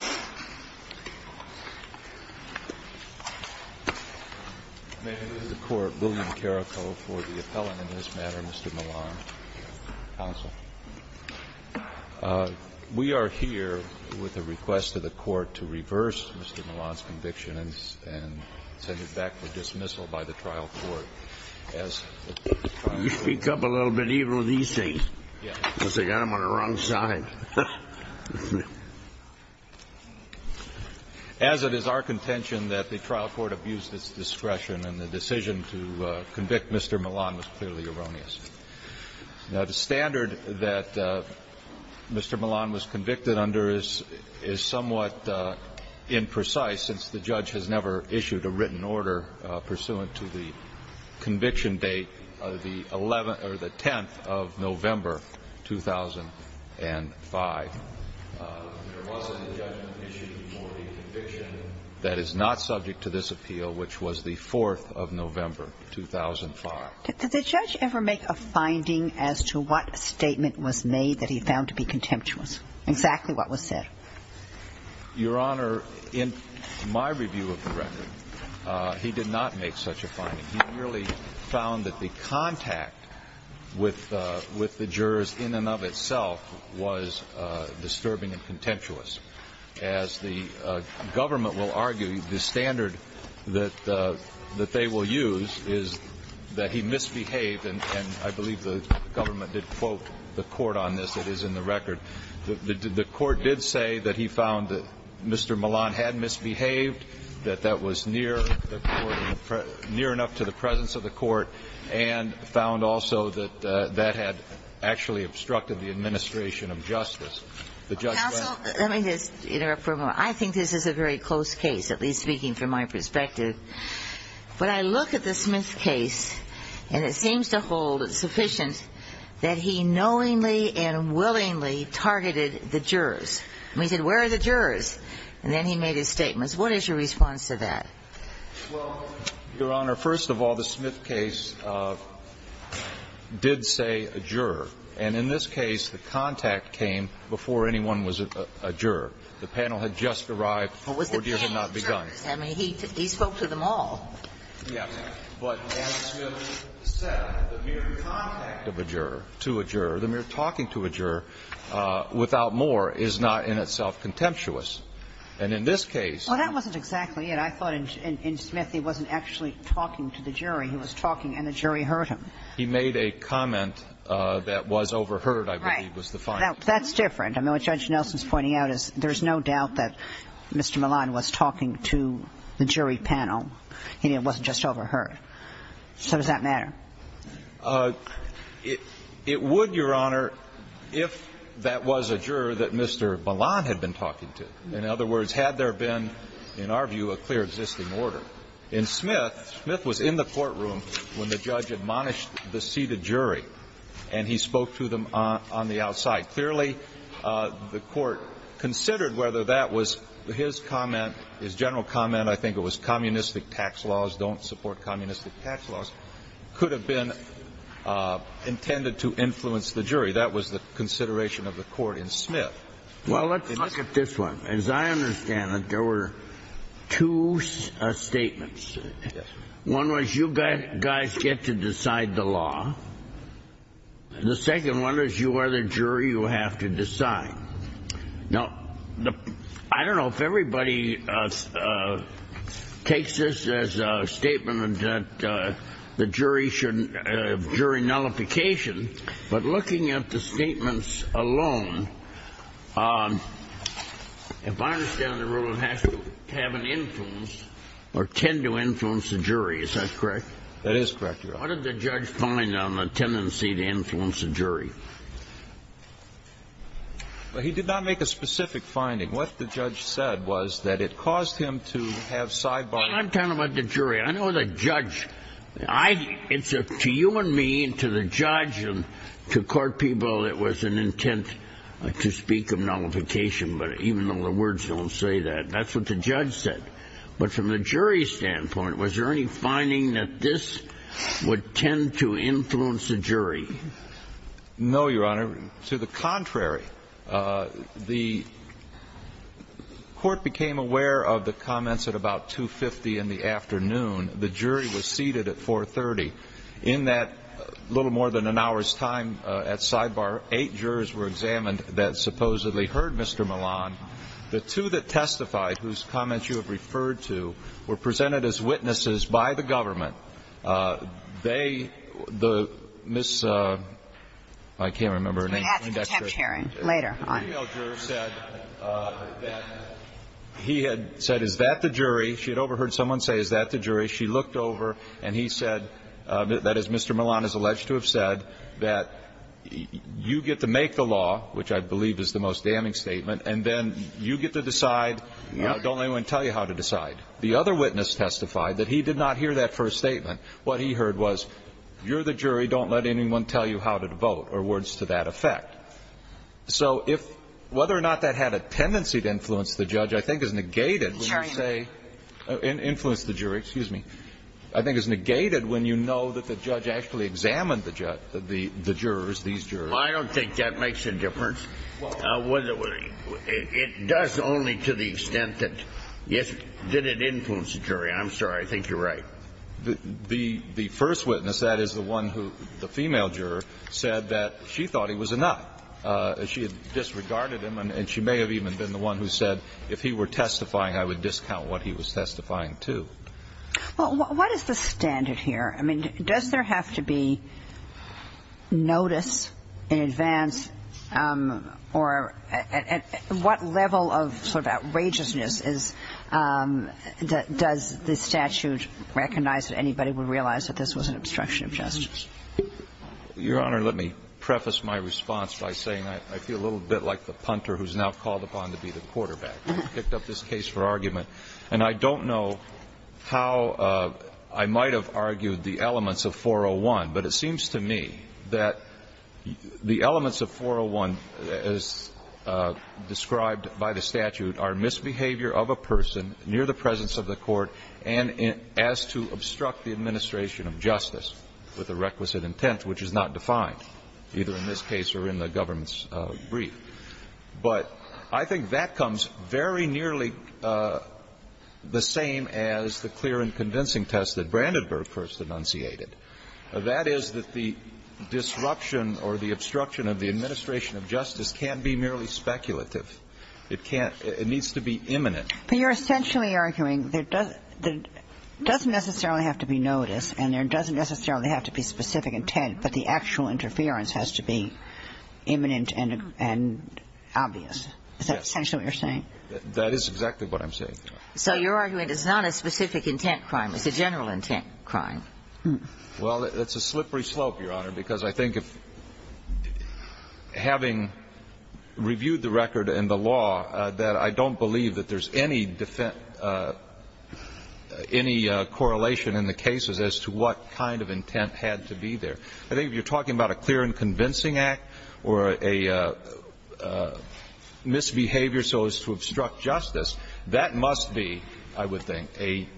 We are here with a request of the court to reverse Mr. Milan's conviction and send him back for dismissal by the trial court. As it is our contention that the trial court abused its discretion and the decision to convict Mr. Milan was clearly erroneous. Now, the standard that Mr. Milan was convicted under is somewhat imprecise since the judge has never issued a written order pursuant to the conviction date of the 11th or the 10th of November, 2005. There wasn't a judgment issued before the conviction that is not subject to this appeal, which was the 4th of November, 2005. Did the judge ever make a finding as to what statement was made that he found to be contemptuous, exactly what was said? Your Honor, in my review of the record, he did not make such a finding. He merely found that the contact with the jurors in and of itself was disturbing and contemptuous. As the government will argue, the standard that they will use is that he misbehaved, and I believe the government did quote the court on this. It is in the record. The court did say that he found that Mr. Milan had misbehaved, that that was near enough to the presence of the court, and found also that that had actually obstructed the administration of justice. Counsel, let me just interrupt for a moment. I think this is a very close case, at least speaking from my perspective. When I look at the Smith case, and it seems to hold sufficient that he knowingly and willingly targeted the jurors. I mean, he said, where are the jurors? And then he made his statements. What is your response to that? Well, Your Honor, first of all, the Smith case did say a juror. And in this case, the contact came before anyone was a juror. The panel had just arrived, the ordeals had not begun. I mean, he spoke to them all. Yes. But as Smith said, the mere contact of a juror to a juror, the mere talking to a juror without more is not in itself contemptuous. And as I said, I think the jury was overheard. I believe was the fine. Right. Now, that's different. I mean, what Judge Nelson's pointing out is there's no doubt that Mr. Milan was talking to the jury panel. He wasn't just overheard. So does that matter? It would, Your Honor, if that was a juror that Mr. Milan had been talking to. In other words, had there been, in our view, a clear existing order. In Smith, Smith was in the courtroom when the judge admonished the seated jury. And he spoke to them on the outside. Clearly, the court considered whether that was his comment, his general comment. I think it was communistic tax laws don't support communistic tax laws. Could have been intended to influence the jury. That was the consideration of the court in Smith. Well, let's look at this one. As I understand it, there were two statements. One was you guys get to decide the law. The second one is you are the jury. You have to decide. Now, I don't know if everybody takes this as a statement that the jury nullification. But looking at the statements alone, if I understand the rule, it has to have an influence or tend to influence the jury. Is that correct? That is correct, Your Honor. What did the judge find on the tendency to influence the jury? He did not make a specific finding. What the judge said was that it caused him to have sidebars. I'm talking about the jury. I know the judge. To you and me and to the judge and to court people, it was an intent to speak of nullification. But even though the words don't say that, that's what the judge said. But from the jury's standpoint, was there any finding that this would tend to influence the jury? No, Your Honor. To the contrary, the court became aware of the comments at about 2.50 in the afternoon. The jury was seated at 4.30. In that little more than an hour's time at sidebar, eight jurors were examined that supposedly heard Mr. Milan. The two that testified, whose comments you have referred to, were presented as witnesses by the government. They, the Miss, I can't remember her name. She has a contempt hearing later on. The female juror said that he had said, is that the jury? She had overheard someone say, is that the jury? She looked over and he said, that as Mr. Milan is alleged to have said, that you get to make the law, which I believe is the most damning statement, and then you get to decide. Don't let anyone tell you how to decide. The other witness testified that he did not hear that first statement. What he heard was, you're the jury. Don't let anyone tell you how to vote, or words to that effect. So if, whether or not that had a tendency to influence the judge, I think is negated when you say, influence the jury. Excuse me. I think it's negated when you know that the judge actually examined the jurors, these jurors. I don't think that makes a difference. It does only to the extent that it influenced the jury. I'm sorry. I think you're right. The first witness, that is the one who, the female juror, said that she thought he was enough. She had disregarded him, and she may have even been the one who said, if he were testifying, I would discount what he was testifying to. Well, what is the standard here? I mean, does there have to be notice in advance, or at what level of sort of outrageousness is, does the statute recognize that anybody would realize that this was an obstruction of justice? Your Honor, let me preface my response by saying I feel a little bit like the punter who's now called upon to be the quarterback. I picked up this case for argument, and I don't know how I might have argued the elements of 401, but it seems to me that the elements of 401 as described by the statute are misbehavior of a person near the presence of the court and as to obstruct the administration of justice with a requisite intent, which is not defined, either in this case or in the government's brief. But I think that comes very nearly the same as the clear and convincing test that Brandenburg first enunciated. That is that the disruption or the obstruction of the administration of justice can't be merely speculative. It can't. It needs to be imminent. But you're essentially arguing there doesn't necessarily have to be notice and there doesn't necessarily have to be specific intent, but the actual interference has to be imminent and obvious. Is that essentially what you're saying? That is exactly what I'm saying. So your argument is not a specific intent crime. It's a general intent crime. Well, it's a slippery slope, Your Honor, because I think having reviewed the record and the law, that I don't believe that there's any correlation in the cases as to what kind of intent had to be there. I think if you're talking about a clear and convincing act or a misbehavior so as to obstruct justice, that must be, I would think, a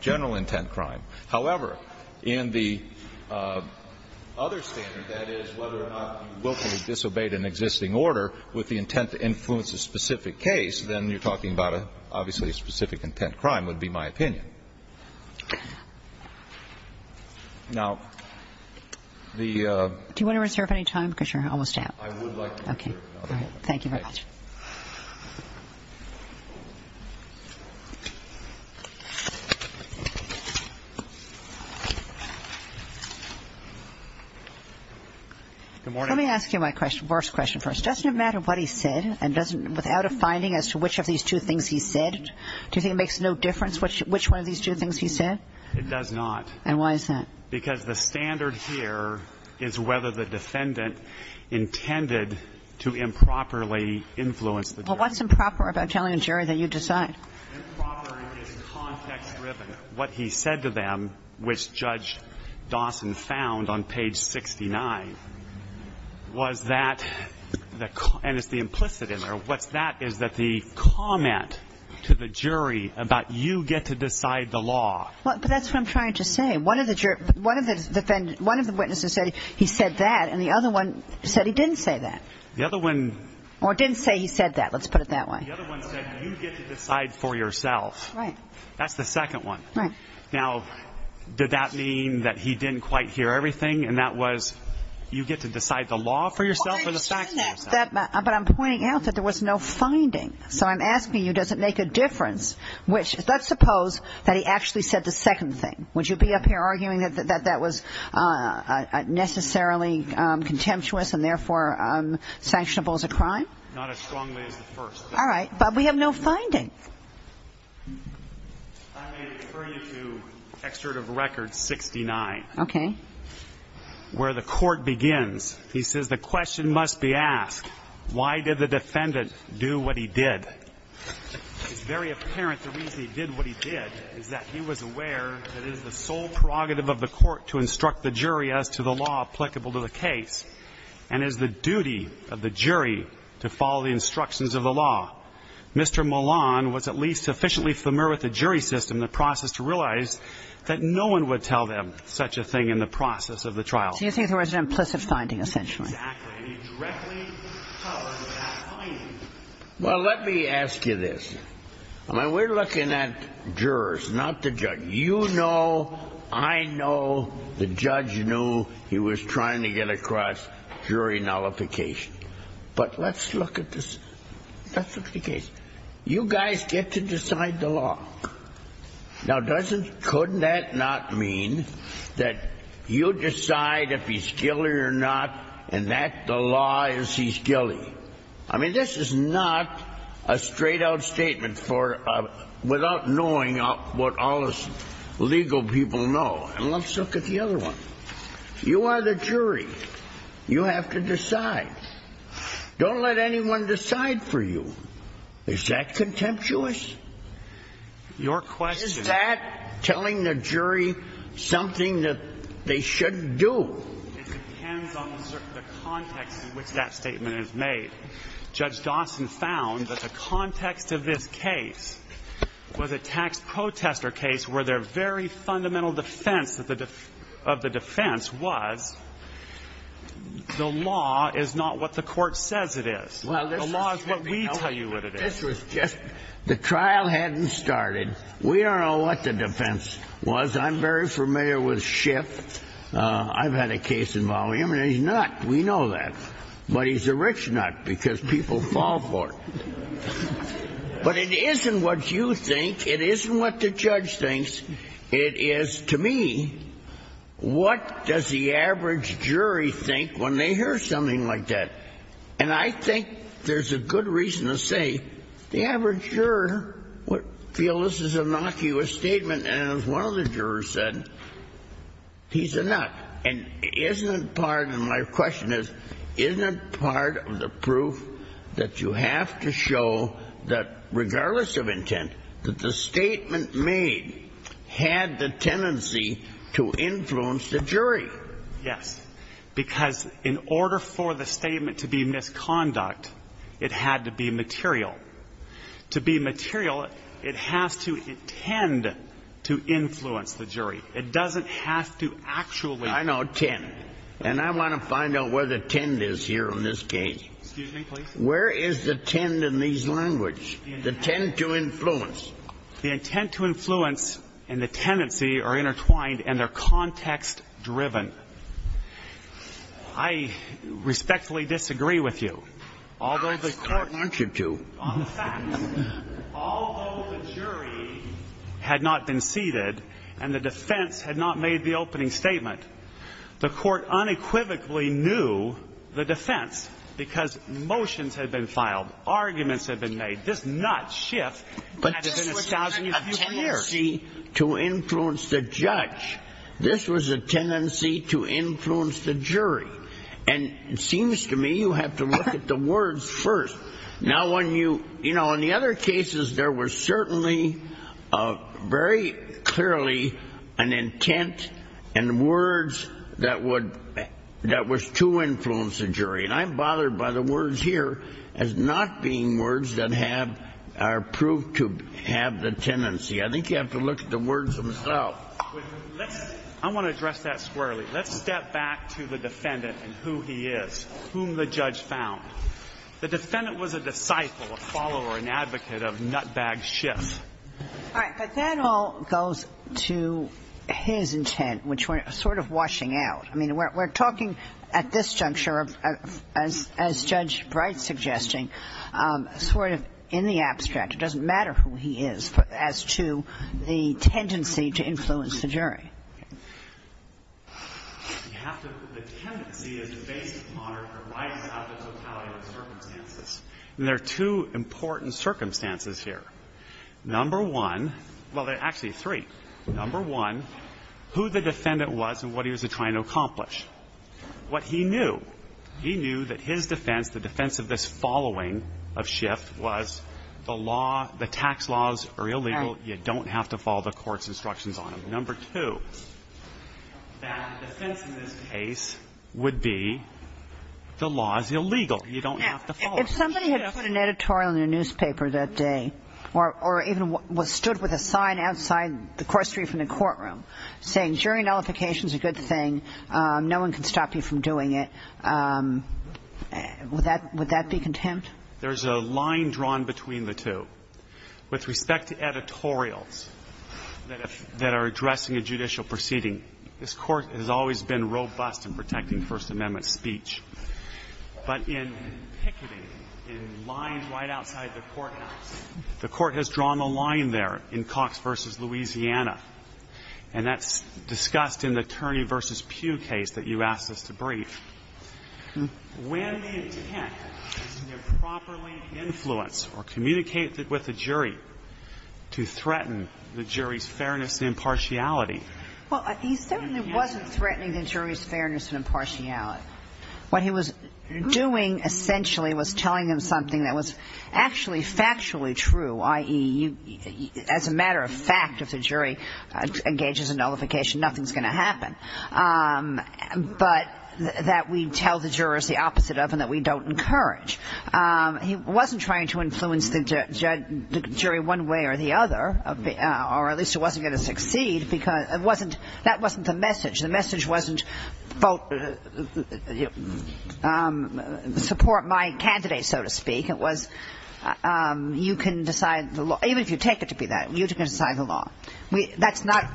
general intent crime. However, in the other standard, that is, whether or not you willfully disobeyed an existing order with the intent to influence a specific case, then you're talking about, obviously, a specific intent crime would be my opinion. Now, the ---- Do you want to reserve any time? Because you're almost out. I would like to reserve another moment. Okay. Thank you very much. Good morning. Let me ask you my worst question first. Doesn't it matter what he said and doesn't ---- without a finding as to which of these two things he said, do you think it makes no difference which one is true and which one is false? It does not. And why is that? Because the standard here is whether the defendant intended to improperly influence the jury. Well, what's improper about telling a jury that you decide? Improper is context-driven. What he said to them, which Judge Dawson found on page 69, was that the ---- and it's the implicit in there. What's that is that the comment to the jury about you get to decide the law. But that's what I'm trying to say. One of the witnesses said he said that and the other one said he didn't say that. The other one ---- Or didn't say he said that. Let's put it that way. The other one said you get to decide for yourself. Right. That's the second one. Right. Now, did that mean that he didn't quite hear everything and that was you get to decide the law for yourself or the facts for yourself? But I'm pointing out that there was no finding. So I'm asking you, does it make a difference? Let's suppose that he actually said the second thing. Would you be up here arguing that that was necessarily contemptuous and therefore sanctionable as a crime? Not as strongly as the first. All right. But we have no finding. I may refer you to Excerpt of Record 69. Okay. Where the court begins. He says the question must be asked. Why did the defendant do what he did? It's very apparent the reason he did what he did is that he was aware that it is the sole prerogative of the court to instruct the jury as to the law applicable to the case and is the duty of the jury to follow the instructions of the law. Mr. Milan was at least sufficiently familiar with the jury system in the process to realize that no one would tell them such a thing in the process of the trial. So you think there was an implicit finding, essentially. Exactly. And he directly covered that finding. Well, let me ask you this. I mean, we're looking at jurors, not the judge. You know, I know the judge knew he was trying to get across jury nullification. But let's look at this. Let's look at the case. You guys get to decide the law. Now, doesn't, couldn't that not mean that you decide if he's guilty or not and that the law is he's guilty? I mean, this is not a straight-out statement for, without knowing what all the legal people know. And let's look at the other one. You are the jury. You have to decide. Don't let anyone decide for you. Is that contemptuous? Your question. Is that telling the jury something that they shouldn't do? It depends on the context in which that statement is made. Judge Dawson found that the context of this case was a tax protester case where their very fundamental defense of the defense was the law is not what the court says it is. The law is what we tell you what it is. This was just, the trial hadn't started. We don't know what the defense was. I'm very familiar with Schiff. I've had a case involving him, and he's nut. We know that. But he's a rich nut because people fall for it. But it isn't what you think. It isn't what the judge thinks. It is, to me, what does the average jury think when they hear something like that? And I think there's a good reason to say the average juror would feel this is a innocuous statement. And as one of the jurors said, he's a nut. And isn't it part, and my question is, isn't it part of the proof that you have to show that regardless of intent, that the statement made had the tendency to influence the jury? Yes. Because in order for the statement to be misconduct, it had to be material. To be material, it has to intend to influence the jury. It doesn't have to actually. I know, tend. And I want to find out where the tend is here in this case. Excuse me, please. Where is the tend in these languages? The tend to influence. The intent to influence and the tendency are intertwined and they're context-driven. I respectfully disagree with you. Although the court wants you to. On the facts, although the jury had not been seated and the defense had not made the opening statement, the court unequivocally knew the defense because motions had been filed. Arguments had been made. This nut shift has been a thousand years. But this was a tendency to influence the judge. This was a tendency to influence the jury. And it seems to me you have to look at the words first. Now when you, you know, in the other cases there was certainly a very clearly an intent and words that would, that was to influence the jury. And I'm bothered by the words here as not being words that have, are proved to have the tendency. I think you have to look at the words themselves. I want to address that squarely. Let's step back to the defendant and who he is. Whom the judge found. The defendant was a disciple, a follower, an advocate of nut bag shifts. All right. But that all goes to his intent, which we're sort of washing out. I mean, we're talking at this juncture, as Judge Bright's suggesting, sort of in the abstract. It doesn't matter who he is as to the tendency to influence the jury. You have to, the tendency is a basic monitor. Why does he have the totality of the circumstances? And there are two important circumstances here. Number one, well actually three. Number one, who the defendant was and what he was trying to accomplish. What he knew. He knew that his defense, the defense of this following of shift was the law, the tax laws are illegal. You don't have to follow the court's instructions on them. Number two, that the defense in this case would be the law is illegal. You don't have to follow it. If somebody had put an editorial in a newspaper that day, or even was stood with a sign outside the cross street from the courtroom, saying jury nullification is a good thing, no one can stop you from doing it, would that be contempt? There's a line drawn between the two. With respect to editorials that are addressing a judicial proceeding, this Court has always been robust in protecting First Amendment speech. But in picketing, in lines right outside the courthouse, the Court has drawn a line there in Cox v. Louisiana. And that's discussed in the Turney v. Pugh case that you asked us to brief. When the intent is to improperly influence or communicate with the jury to threaten the jury's fairness and impartiality. Well, he certainly wasn't threatening the jury's fairness and impartiality. What he was doing essentially was telling them something that was actually factually true, i.e., as a matter of fact, if the jury engages in nullification, nothing's going to happen. But that we tell the jurors the opposite of and that we don't encourage. He wasn't trying to influence the jury one way or the other, or at least he wasn't going to succeed. That wasn't the message. The message wasn't support my candidate, so to speak. It was you can decide the law. Even if you take it to be that, you can decide the law. That's not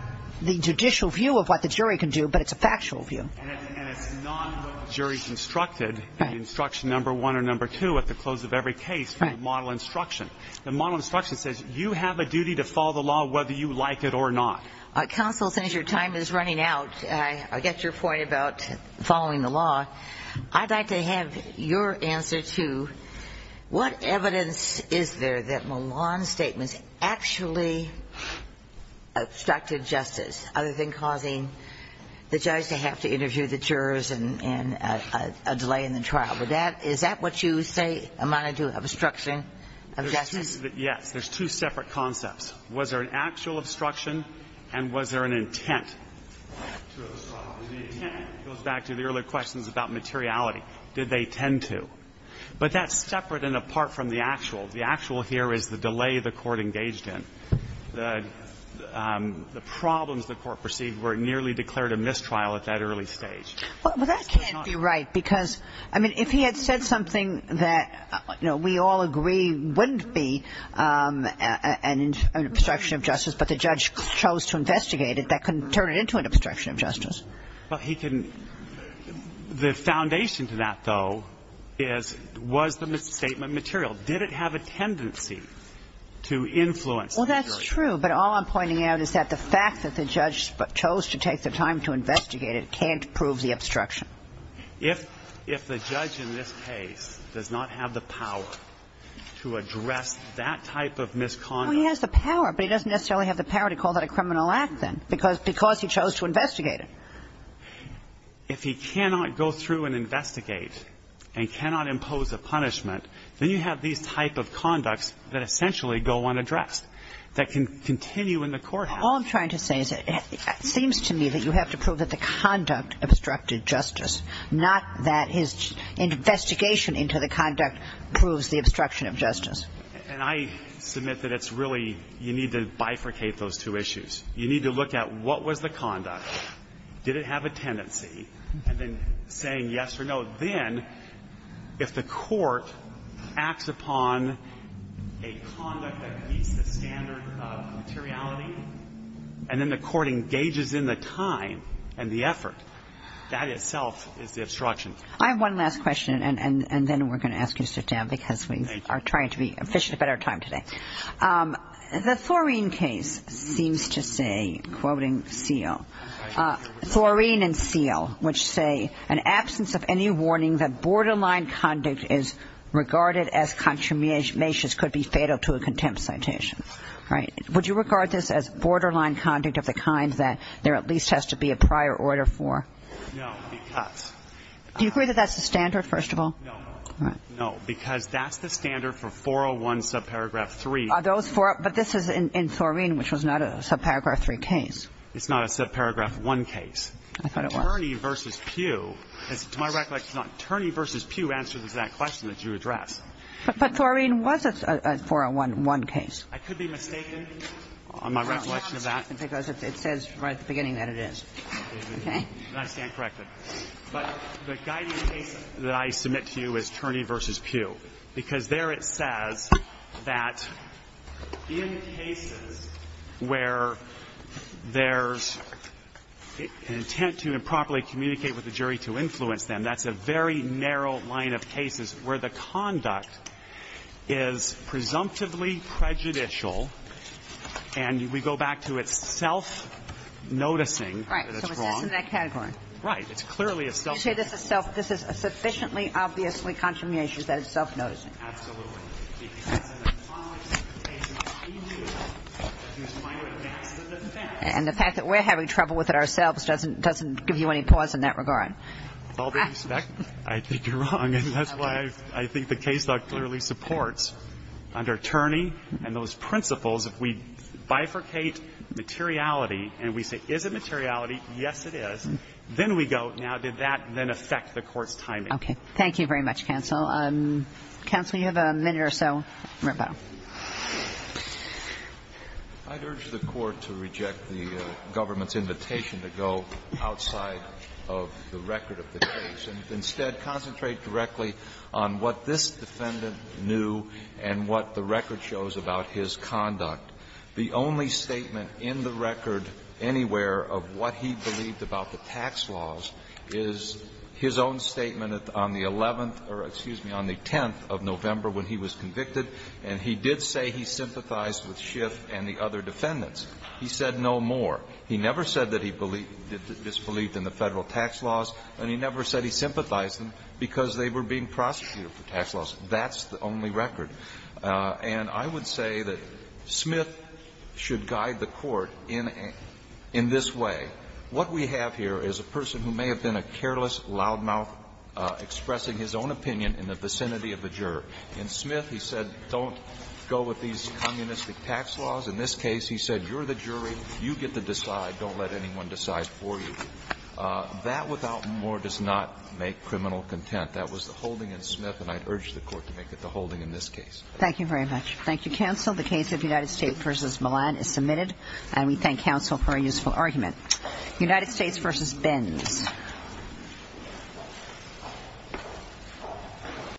the judicial view of what the jury can do, but it's a factual view. And it's not what the jury constructed in Instruction No. 1 or No. 2 at the close of every case from the model instruction. The model instruction says you have a duty to follow the law whether you like it or not. Counsel, since your time is running out, I get your point about following the law. I'd like to have your answer to what evidence is there that Milan's statements actually obstructed justice, other than causing the judge to have to interview the jurors and a delay in the trial. Is that what you say amounted to, obstruction of justice? Yes. There's two separate concepts. Was there an actual obstruction and was there an intent to obstruct? The intent goes back to the earlier questions about materiality. Did they tend to? But that's separate and apart from the actual. The actual here is the delay the court engaged in. The problems the court perceived were nearly declared a mistrial at that early stage. Well, that can't be right because, I mean, if he had said something that we all agree wouldn't be an obstruction of justice but the judge chose to investigate it, that couldn't turn it into an obstruction of justice. Well, he couldn't. The foundation to that, though, was the misstatement of material. Did it have a tendency to influence the jury? Well, that's true. But all I'm pointing out is that the fact that the judge chose to take the time to investigate it can't prove the obstruction. If the judge in this case does not have the power to address that type of misconduct Well, he has the power, but he doesn't necessarily have the power to call that a criminal act then because he chose to investigate it. If he cannot go through and investigate and cannot impose a punishment then you have these type of conducts that essentially go unaddressed that can continue in the court house. All I'm trying to say is it seems to me that you have to prove that the conduct obstructed justice not that his investigation into the conduct proves the obstruction of justice. And I submit that it's really, you need to bifurcate those two issues. You need to look at what was the conduct, did it have a tendency, and then saying yes or no. Then if the court acts upon a conduct that meets the standard of materiality and then the court engages in the time and the effort, that itself is the obstruction. I have one last question and then we're going to ask you to sit down because we are trying to be efficient about our time today. The Thoreen case seems to say, quoting Seale, Thoreen and Seale, which say, an absence of any warning that borderline conduct is regarded as consummation could be fatal to a contempt citation. Would you regard this as borderline conduct of the kind that there at least has to be a prior order for? No, because. Do you agree that that's the standard, first of all? No, because that's the standard for 401 subparagraph 3. But this is in Thoreen, which was not a subparagraph 3 case. It's not a subparagraph 1 case. I thought it was. Attorney v. Pugh, to my recollection, Attorney v. Pugh answers that question that you addressed. But Thoreen was a 401 case. I could be mistaken on my recollection of that. Because it says right at the beginning that it is. I stand corrected. But the guiding case that I submit to you is Turney v. Pugh. Because there it says that in cases where there's an intent to improperly communicate with the jury to influence them, that's a very narrow line of cases where the conduct is presumptively prejudicial. And we go back to it's self-noticing that it's wrong. Right. So it's in that category. Right. It's clearly a self-noticing. You say this is sufficiently, obviously, contravening that it's self-noticing. Absolutely. Because in the context of the case, it must be viewed as a minor advance to the defense. And the fact that we're having trouble with it ourselves doesn't give you any pause in that regard. With all due respect, I think you're wrong. And that's why I think the case clearly supports under Turney and those principles, if we bifurcate materiality and we say, is it materiality? Yes, it is. Then we go, now, did that then affect the court's timing? Okay. Thank you very much, counsel. Counsel, you have a minute or so. I'd urge the Court to reject the government's invitation to go outside of the record of the case and instead concentrate directly on what this defendant knew and what the record shows about his conduct. The only statement in the record anywhere of what he believed about the tax laws is his own statement on the 11th or, excuse me, on the 10th of November when he was convicted, and he did say he sympathized with Schiff and the other defendants. He said no more. He never said that he disbelieved in the Federal tax laws, and he never said he sympathized them because they were being prosecuted for tax laws. That's the only record. And I would say that Smith should guide the Court in this way. What we have here is a person who may have been a careless, loudmouthed, expressing his own opinion in the vicinity of the juror. In Smith, he said don't go with these communistic tax laws. In this case, he said you're the jury. You get to decide. Don't let anyone decide for you. That, without more, does not make criminal content. That was the holding in Smith, and I'd urge the Court to make it the holding in this case. Thank you very much. Thank you, counsel. The case of United States v. Milan is submitted. And we thank counsel for a useful argument. United States v. Benz.